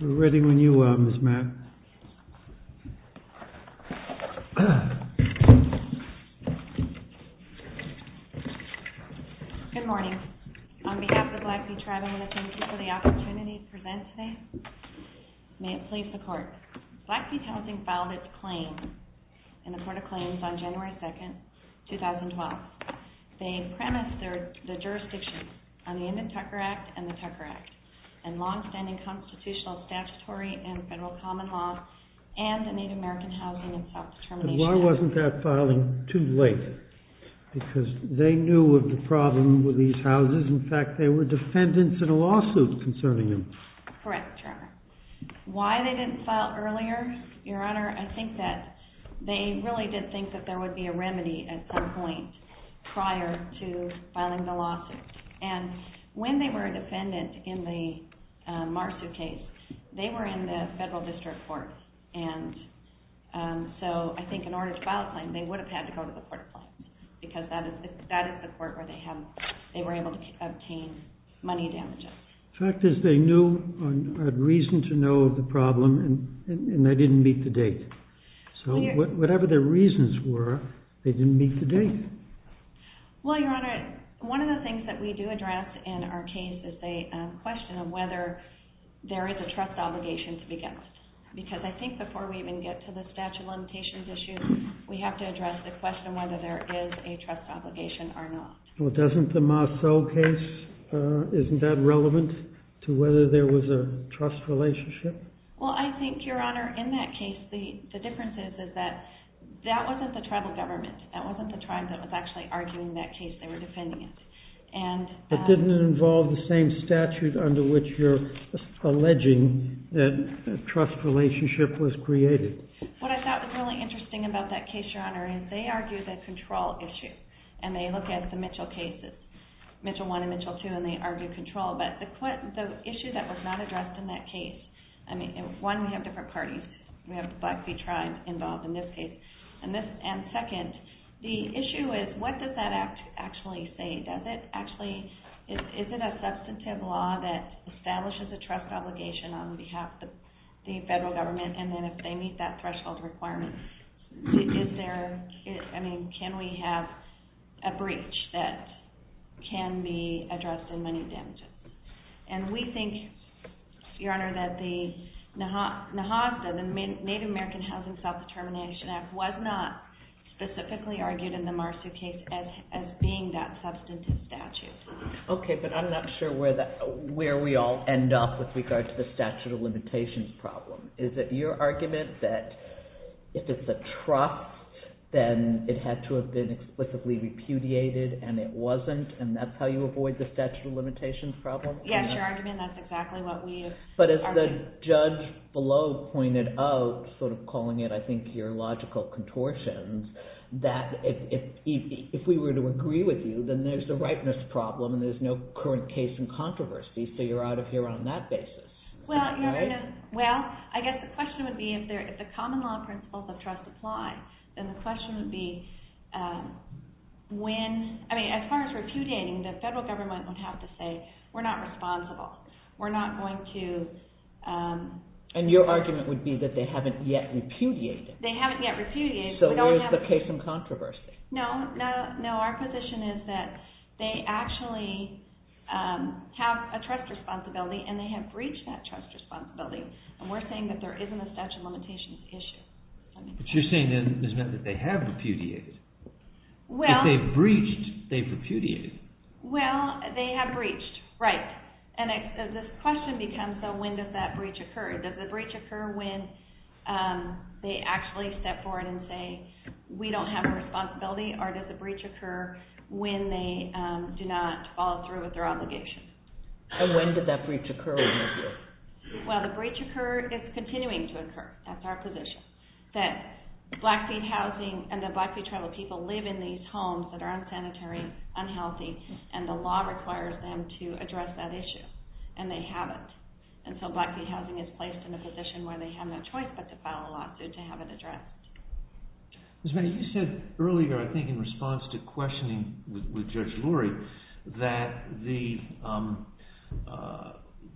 We are ready when you are, Ms. Mack. Good morning. On behalf of the Blackfeet Tribe, I want to thank you for the opportunity to present today. May it please the Court. Blackfeet Housing filed its claim in the Court of Claims on January 2, 2012. They premised their jurisdictions on the Indent Tucker Act and the Tucker Act, and long-standing constitutional statutory and federal common laws, and the Native American Housing and Self-Determination Act. Why wasn't that filing too late? Because they knew of the problem with these houses. In fact, there were defendants in a lawsuit concerning them. Correct, Your Honor. Why they didn't file earlier, Your Honor, I think that they really did think that there would be a remedy at some point prior to filing the lawsuit. And when they were a defendant in the Marsu case, they were in the federal district court, and so I think in order to file a claim, they would have had to go to the Court of Claims, because that is the court where they were able to obtain money damages. The fact is they knew a reason to know of the problem, and they didn't meet the date. So whatever their reasons were, they didn't meet the date. Well, Your Honor, one of the things that we do address in our case is the question of whether there is a trust obligation to be guessed. Because I think before we even get to the statute of limitations issue, we have to address the question of whether there is a trust obligation or not. Well, doesn't the Marceau case, isn't that relevant to whether there was a trust relationship? Well, I think, Your Honor, in that case, the difference is that that wasn't the tribal government. That wasn't the tribe that was actually arguing that case. They were defending it. But didn't it involve the same statute under which you're alleging that a trust relationship was created? What I thought was really interesting about that case, Your Honor, is they argue the control issue. And they look at the Mitchell cases, Mitchell I and Mitchell II, and they argue control. But the issue that was not addressed in that case, I mean, one, we have different parties. We have the Blackfeet tribe involved in this case. And second, the issue is what does that act actually say? Is it a substantive law that establishes a trust obligation on behalf of the federal government? And then if they meet that threshold requirement, is there, I mean, can we have a breach that can be addressed in money damages? And we think, Your Honor, that the NAHASDA, the Native American Housing Self-Determination Act, was not specifically argued in the Marceau case as being that substantive statute. Okay, but I'm not sure where we all end up with regards to the statute of limitations problem. Is it your argument that if it's a trust, then it had to have been explicitly repudiated, and it wasn't, and that's how you avoid the statute of limitations problem? Yes, your argument, that's exactly what we have argued. But as the judge below pointed out, sort of calling it, I think, your logical contortions, that if we were to agree with you, then there's a rightness problem and there's no current case in controversy, so you're out of here on that basis. Well, I guess the question would be if the common law principles of trust apply, then the question would be when, I mean, as far as repudiating, the federal government would have to say, we're not responsible, we're not going to… And your argument would be that they haven't yet repudiated. They haven't yet repudiated. So where's the case in controversy? No, our position is that they actually have a trust responsibility and they have breached that trust responsibility, and we're saying that there isn't a statute of limitations issue. But you're saying then that they have repudiated. If they've breached, they've repudiated. Well, they have breached, right. And this question becomes, so when does that breach occur? Does the breach occur when they actually step forward and say, we don't have a responsibility, or does the breach occur when they do not follow through with their obligation? And when did that breach occur? Well, the breach occurred – it's continuing to occur. That's our position. That Blackfeet housing and the Blackfeet tribal people live in these homes that are unsanitary, unhealthy, and the law requires them to address that issue, and they haven't. And so Blackfeet housing is placed in a position where they have no choice but to file a lawsuit to have it addressed. Ms. Manning, you said earlier, I think in response to questioning with Judge Lurie, that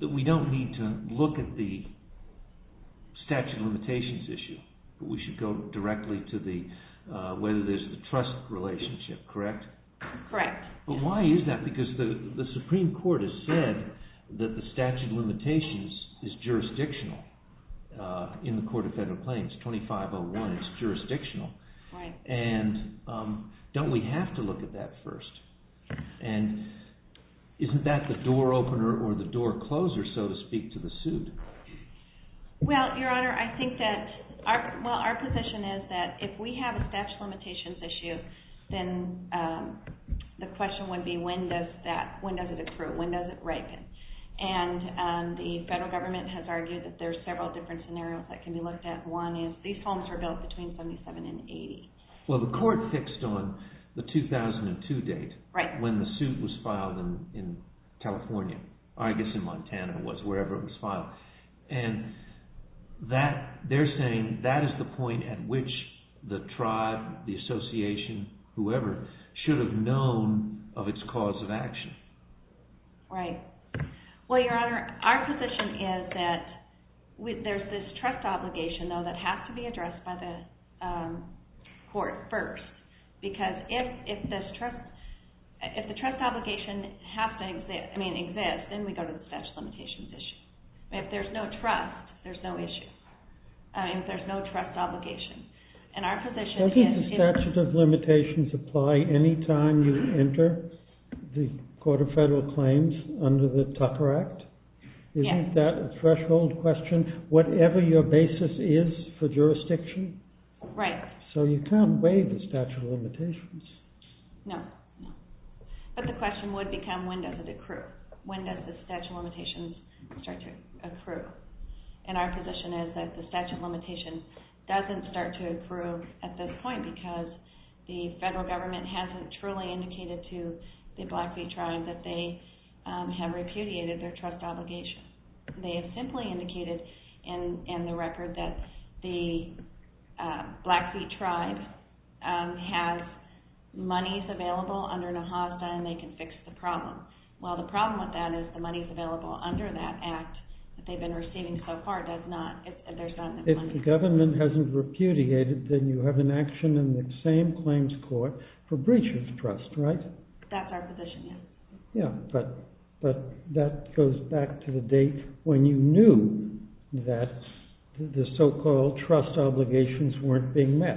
we don't need to look at the statute of limitations issue, but we should go directly to whether there's a trust relationship, correct? Correct. But why is that? Because the Supreme Court has said that the statute of limitations is jurisdictional in the Court of Federal Claims, 2501, it's jurisdictional. Right. And don't we have to look at that first? And isn't that the door opener or the door closer, so to speak, to the suit? Well, Your Honor, I think that – well, our position is that if we have a statute of limitations issue, then the question would be when does that – when does it accrue? When does it break? And the federal government has argued that there's several different scenarios that can be looked at. One is these homes were built between 77 and 80. Well, the court fixed on the 2002 date when the suit was filed in California. I guess in Montana it was, wherever it was filed. And that – they're saying that is the point at which the tribe, the association, whoever, should have known of its cause of action. Right. Well, Your Honor, our position is that there's this trust obligation, though, that has to be addressed by the court first. Because if this trust – if the trust obligation has to exist – I mean, exist, then we go to the statute of limitations issue. If there's no trust, there's no issue. I mean, if there's no trust obligation. And our position is – Doesn't the statute of limitations apply any time you enter the Court of Federal Claims under the Tucker Act? Yes. Isn't that a threshold question? Whatever your basis is for jurisdiction? Right. So you can't waive the statute of limitations. No. But the question would become when does it accrue? When does the statute of limitations start to accrue? And our position is that the statute of limitations doesn't start to accrue at this point because the federal government hasn't truly indicated to the Blackfeet tribe that they have repudiated their trust obligation. They have simply indicated in the record that the Blackfeet tribe has monies available under NAJASDA and they can fix the problem. Well, the problem with that is the monies available under that act that they've been receiving so far does not – there's not enough money. If the government hasn't repudiated, then you have an action in the same claims court for breach of trust, right? That's our position, yes. Yeah, but that goes back to the date when you knew that the so-called trust obligations weren't being met.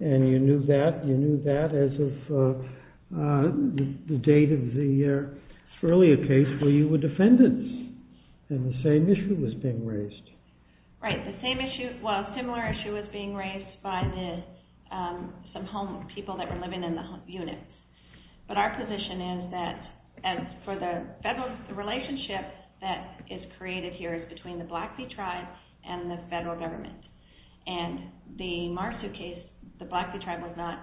And you knew that as of the date of the earlier case where you were defendants and the same issue was being raised. Right, the same issue – well, a similar issue was being raised by some home people that were living in the unit. But our position is that for the federal relationship that is created here is between the Blackfeet tribe and the federal government. And the Marsu case, the Blackfeet tribe was not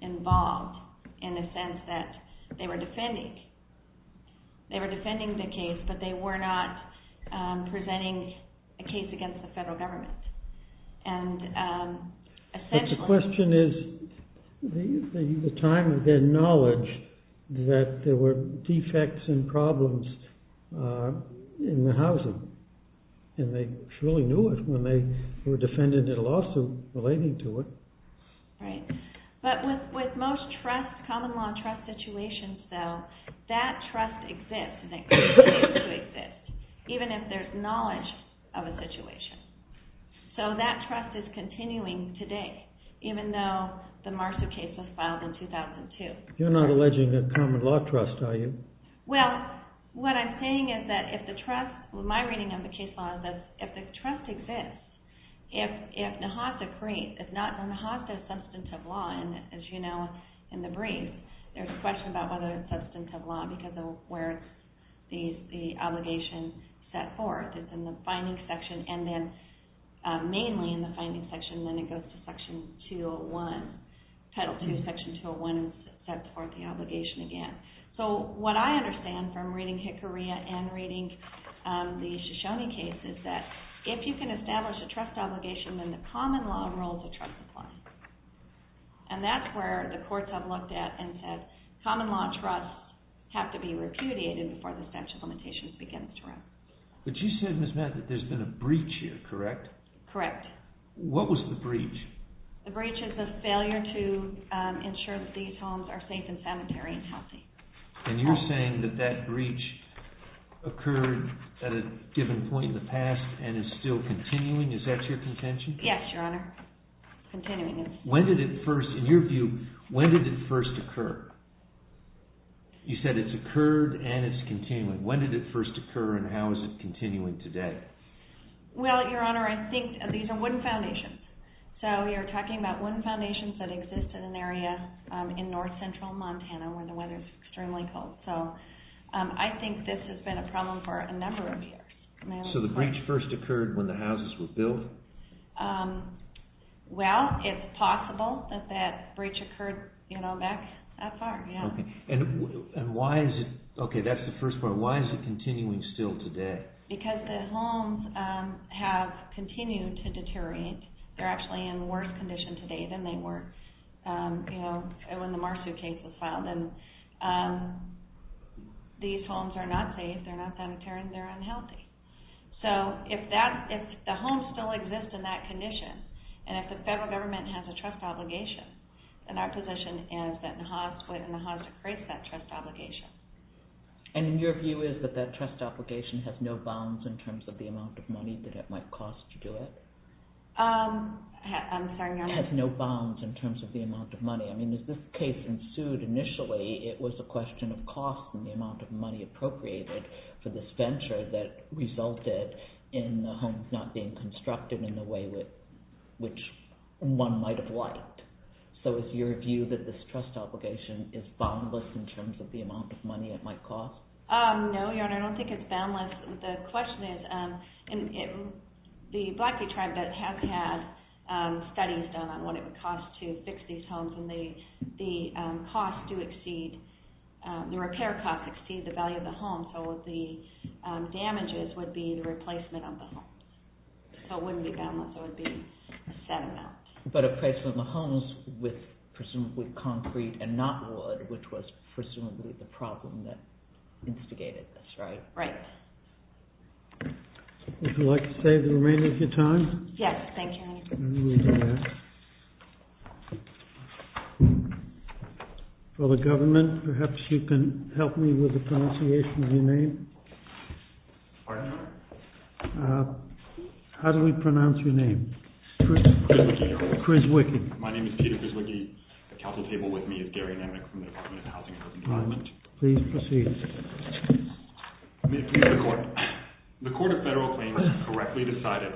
involved in the sense that they were defending. They were defending the case, but they were not presenting a case against the federal government. And essentially – At the time of their knowledge that there were defects and problems in the housing. And they truly knew it when they were defending a lawsuit relating to it. Right, but with most common law trust situations, though, that trust exists and continues to exist, even if there's knowledge of a situation. So that trust is continuing today, even though the Marsu case was filed in 2002. You're not alleging a common law trust, are you? Well, what I'm saying is that if the trust – my reading of the case law is that if the trust exists, if NAHASA creates – if NAHASA is substantive law, as you know in the brief, there's a question about whether it's substantive law because of where the obligation is set forth. It's in the finding section and then mainly in the finding section, and then it goes to section 201, Title II, section 201, and sets forth the obligation again. So what I understand from reading Hickory and reading the Shoshone case is that if you can establish a trust obligation, then the common law rules of trust apply. And that's where the courts have looked at and said common law trusts have to be repudiated before the statute of limitations begins to run. But you said, Ms. Matt, that there's been a breach here, correct? Correct. What was the breach? The breach is the failure to ensure that these homes are safe and sanitary and healthy. And you're saying that that breach occurred at a given point in the past and is still continuing? Is that your contention? Yes, Your Honor, continuing. When did it first, in your view, when did it first occur? You said it's occurred and it's continuing. When did it first occur and how is it continuing today? Well, Your Honor, I think these are wooden foundations. So you're talking about wooden foundations that exist in an area in north central Montana where the weather is extremely cold. So I think this has been a problem for a number of years. So the breach first occurred when the houses were built? Well, it's possible that that breach occurred, you know, back that far, yeah. And why is it, okay, that's the first part. Why is it continuing still today? Because the homes have continued to deteriorate. They're actually in worse condition today than they were, you know, when the Marsu case was filed. And these homes are not safe, they're not sanitary, and they're unhealthy. So if the homes still exist in that condition, and if the federal government has a trust obligation, then our position is that the hospice creates that trust obligation. And your view is that that trust obligation has no bounds in terms of the amount of money that it might cost to do it? I'm sorry, Your Honor? It has no bounds in terms of the amount of money. I mean, as this case ensued initially, it was a question of cost and the amount of money appropriated for this venture that resulted in the homes not being constructed in the way which one might have liked. So is your view that this trust obligation is boundless in terms of the amount of money it might cost? No, Your Honor, I don't think it's boundless. The question is, the Blackfeet tribe has had studies done on what it would cost to fix these homes, and the repair costs exceed the value of the homes, so the damages would be the replacement of the homes. So it wouldn't be boundless, it would be a set amount. But a replacement of the homes with presumably concrete and not wood, which was presumably the problem that instigated this, right? Right. Would you like to save the remainder of your time? Yes, thank you. For the government, perhaps you can help me with the pronunciation of your name? How do we pronounce your name? Chris Wickey. My name is Peter Chris Wickey. At the council table with me is Gary Nemnick from the Department of Housing and Urban Development. Please proceed. May it please the Court. The Court of Federal Claims has correctly decided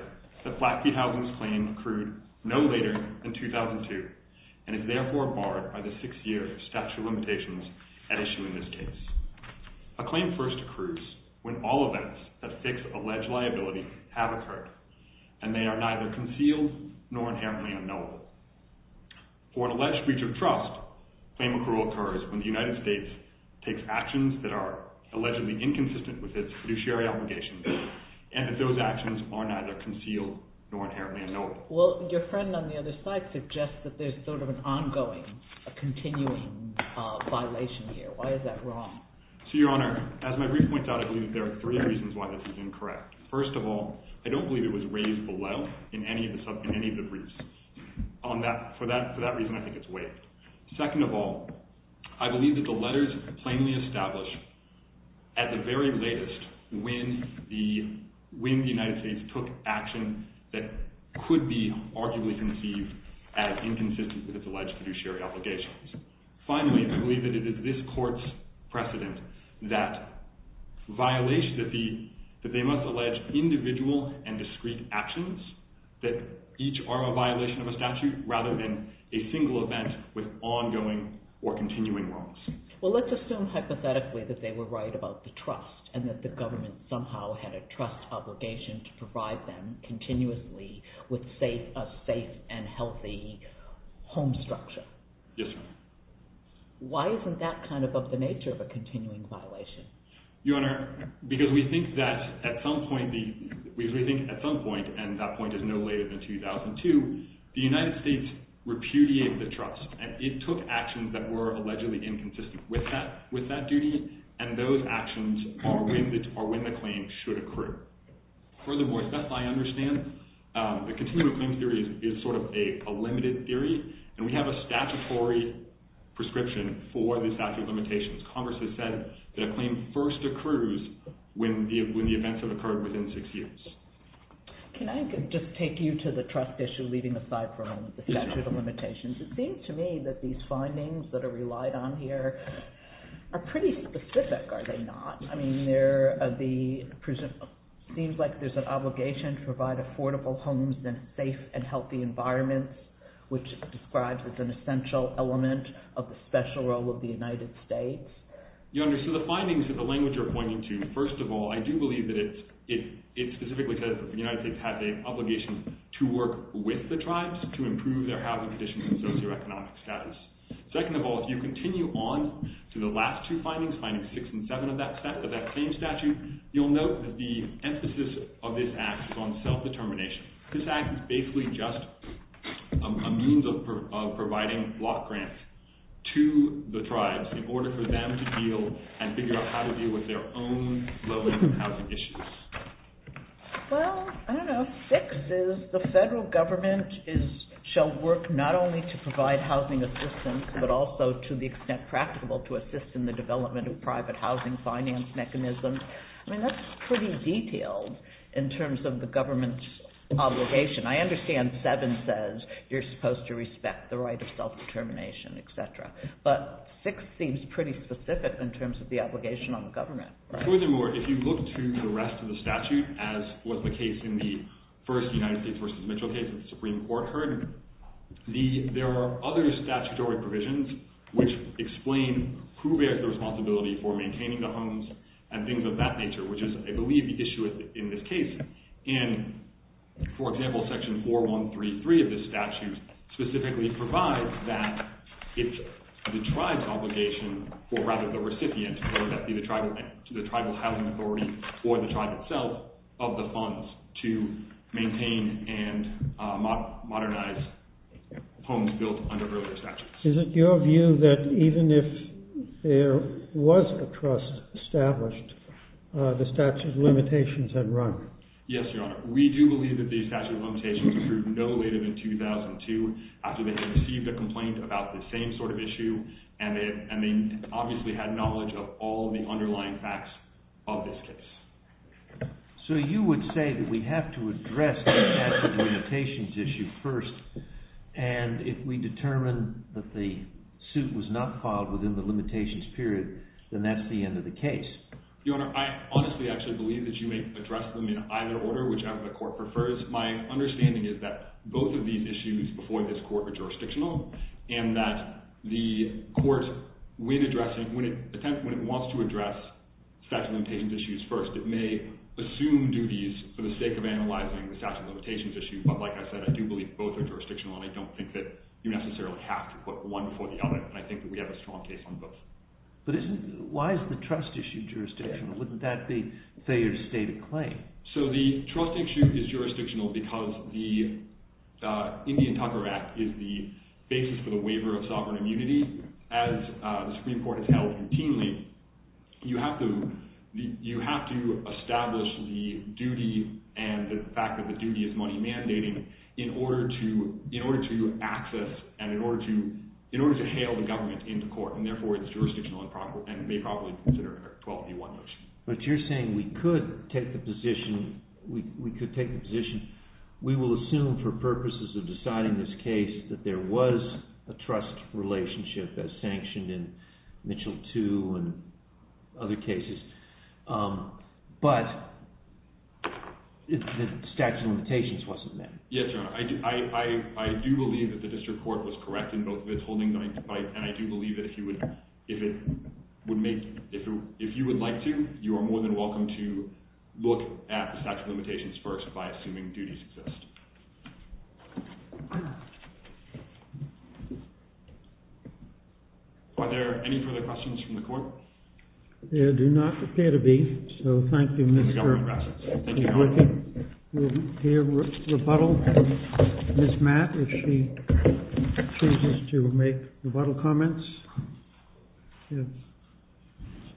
that Blackfeet Housing's claim accrued no later than 2002, and is therefore barred by the six-year statute of limitations at issue in this case. A claim first accrues when all events that fix alleged liability have occurred, and they are neither concealed nor inherently unknowable. For an alleged breach of trust, claim accrual occurs when the United States takes actions that are allegedly inconsistent with its fiduciary obligations, and that those actions are neither concealed nor inherently unknowable. Well, your friend on the other side suggests that there's sort of an ongoing, continuing violation here. Why is that wrong? Your Honor, as my brief points out, I believe there are three reasons why this is incorrect. First of all, I don't believe it was raised below in any of the briefs. For that reason, I think it's waived. Second of all, I believe that the letters plainly establish at the very latest when the United States took action that could be arguably conceived as inconsistent with its alleged fiduciary obligations. Finally, I believe that it is this Court's precedent that they must allege individual and discrete actions that each are a violation of a statute, rather than a single event with ongoing or continuing wrongs. Well, let's assume hypothetically that they were right about the trust, and that the government somehow had a trust obligation to provide them continuously with a safe and healthy home structure. Yes, Your Honor. Why isn't that kind of of the nature of a continuing violation? Your Honor, because we think that at some point, and that point is no later than 2002, the United States repudiated the trust. It took actions that were allegedly inconsistent with that duty, and those actions are when the claim should accrue. Furthermore, Seth, I understand the continuing claim theory is sort of a limited theory, and we have a statutory prescription for the statute of limitations. Congress has said that a claim first accrues when the events have occurred within six years. Can I just take you to the trust issue, leaving aside for a moment the statute of limitations? It seems to me that these findings that are relied on here are pretty specific, are they not? I mean, it seems like there's an obligation to provide affordable homes and safe and healthy environments, which is described as an essential element of the special role of the United States. Your Honor, so the findings that the language you're pointing to, first of all, I do believe that it specifically says that the United States has an obligation to work with the tribes to improve their housing conditions and socioeconomic status. Second of all, if you continue on to the last two findings, findings six and seven of that claim statute, you'll note that the emphasis of this act is on self-determination. This act is basically just a means of providing block grants to the tribes in order for them to deal and figure out how to deal with their own housing issues. Well, I don't know, six is the federal government shall work not only to provide housing assistance, but also to the extent practical to assist in the development of private housing finance mechanisms. I mean, that's pretty detailed in terms of the government's obligation. I understand seven says you're supposed to respect the right of self-determination, et cetera, but six seems pretty specific in terms of the obligation on the government. Furthermore, if you look to the rest of the statute as was the case in the first United States v. Mitchell case that the Supreme Court heard, there are other statutory provisions which explain who bears the responsibility for maintaining the homes and things of that nature, which is, I believe, the issue in this case. And, for example, section 4133 of this statute specifically provides that it's the tribe's obligation, or rather the recipient, whether that be the tribal housing authority or the tribe itself, of the funds to maintain and modernize homes built under earlier statutes. Is it your view that even if there was a trust established, the statute of limitations had run? Yes, Your Honor. We do believe that the statute of limitations was approved no later than 2002 after they had received a complaint about the same sort of issue, and they obviously had knowledge of all the underlying facts of this case. So you would say that we have to address the statute of limitations issue first, and if we determine that the suit was not filed within the limitations period, then that's the end of the case? Your Honor, I honestly actually believe that you may address them in either order, whichever the court prefers. My understanding is that both of these issues before this court are jurisdictional, and that the court, when it wants to address statute of limitations issues first, it may assume duties for the sake of analyzing the statute of limitations issue. But, like I said, I do believe both are jurisdictional, and I don't think that you necessarily have to put one before the other, and I think that we have a strong case on both. But why is the trust issue jurisdictional? Wouldn't that be, say, your stated claim? So the trust issue is jurisdictional because the Indian Tucker Act is the basis for the waiver of sovereign immunity. As the Supreme Court has held routinely, you have to establish the duty and the fact that the duty is money mandating in order to access and in order to hail the government into court, and therefore it's jurisdictional and may probably consider a 12D1 motion. But you're saying we could take the position, we could take the position, we will assume for purposes of deciding this case that there was a trust relationship as sanctioned in Mitchell 2 and other cases, but the statute of limitations wasn't met. Yes, Your Honor. I do believe that the district court was correct in both of its holding, and I do believe that if you would like to, you are more than welcome to look at the statute of limitations first by assuming duties exist. Are there any further questions from the court? There do not appear to be, so thank you, Mr. Blinken. We'll hear rebuttal from Ms. Mack if she chooses to make rebuttal comments. You have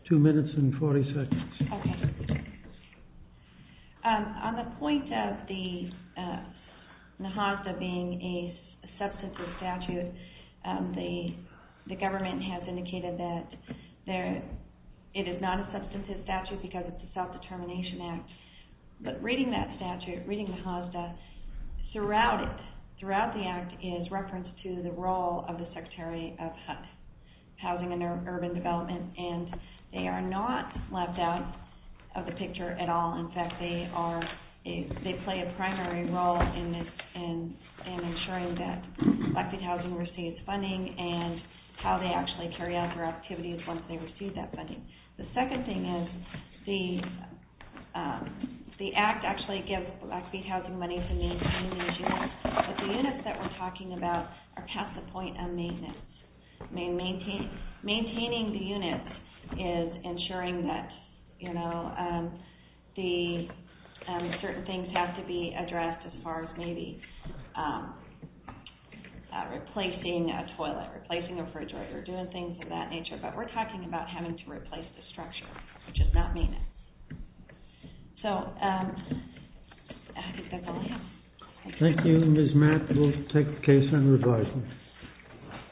two minutes and 40 seconds. Okay. On the point of the HOSDA being a substantive statute, the government has indicated that it is not a substantive statute because it's a self-determination act, but reading that statute, reading the HOSDA, throughout it, throughout the act is reference to the role of the Secretary of Housing and Urban Development, and they are not left out of the picture at all. In fact, they play a primary role in ensuring that Blackfeet Housing receives funding and how they actually carry out their activities once they receive that funding. The second thing is the act actually gives Blackfeet Housing money for maintenance, but the units that we're talking about are past the point of maintenance. Maintaining the units is ensuring that certain things have to be addressed as far as maybe replacing a toilet, replacing a refrigerator, doing things of that nature. But we're talking about having to replace the structure, which is not maintenance. So, I think that's all I have. Thank you, Ms. Mack. We'll take the case on revising.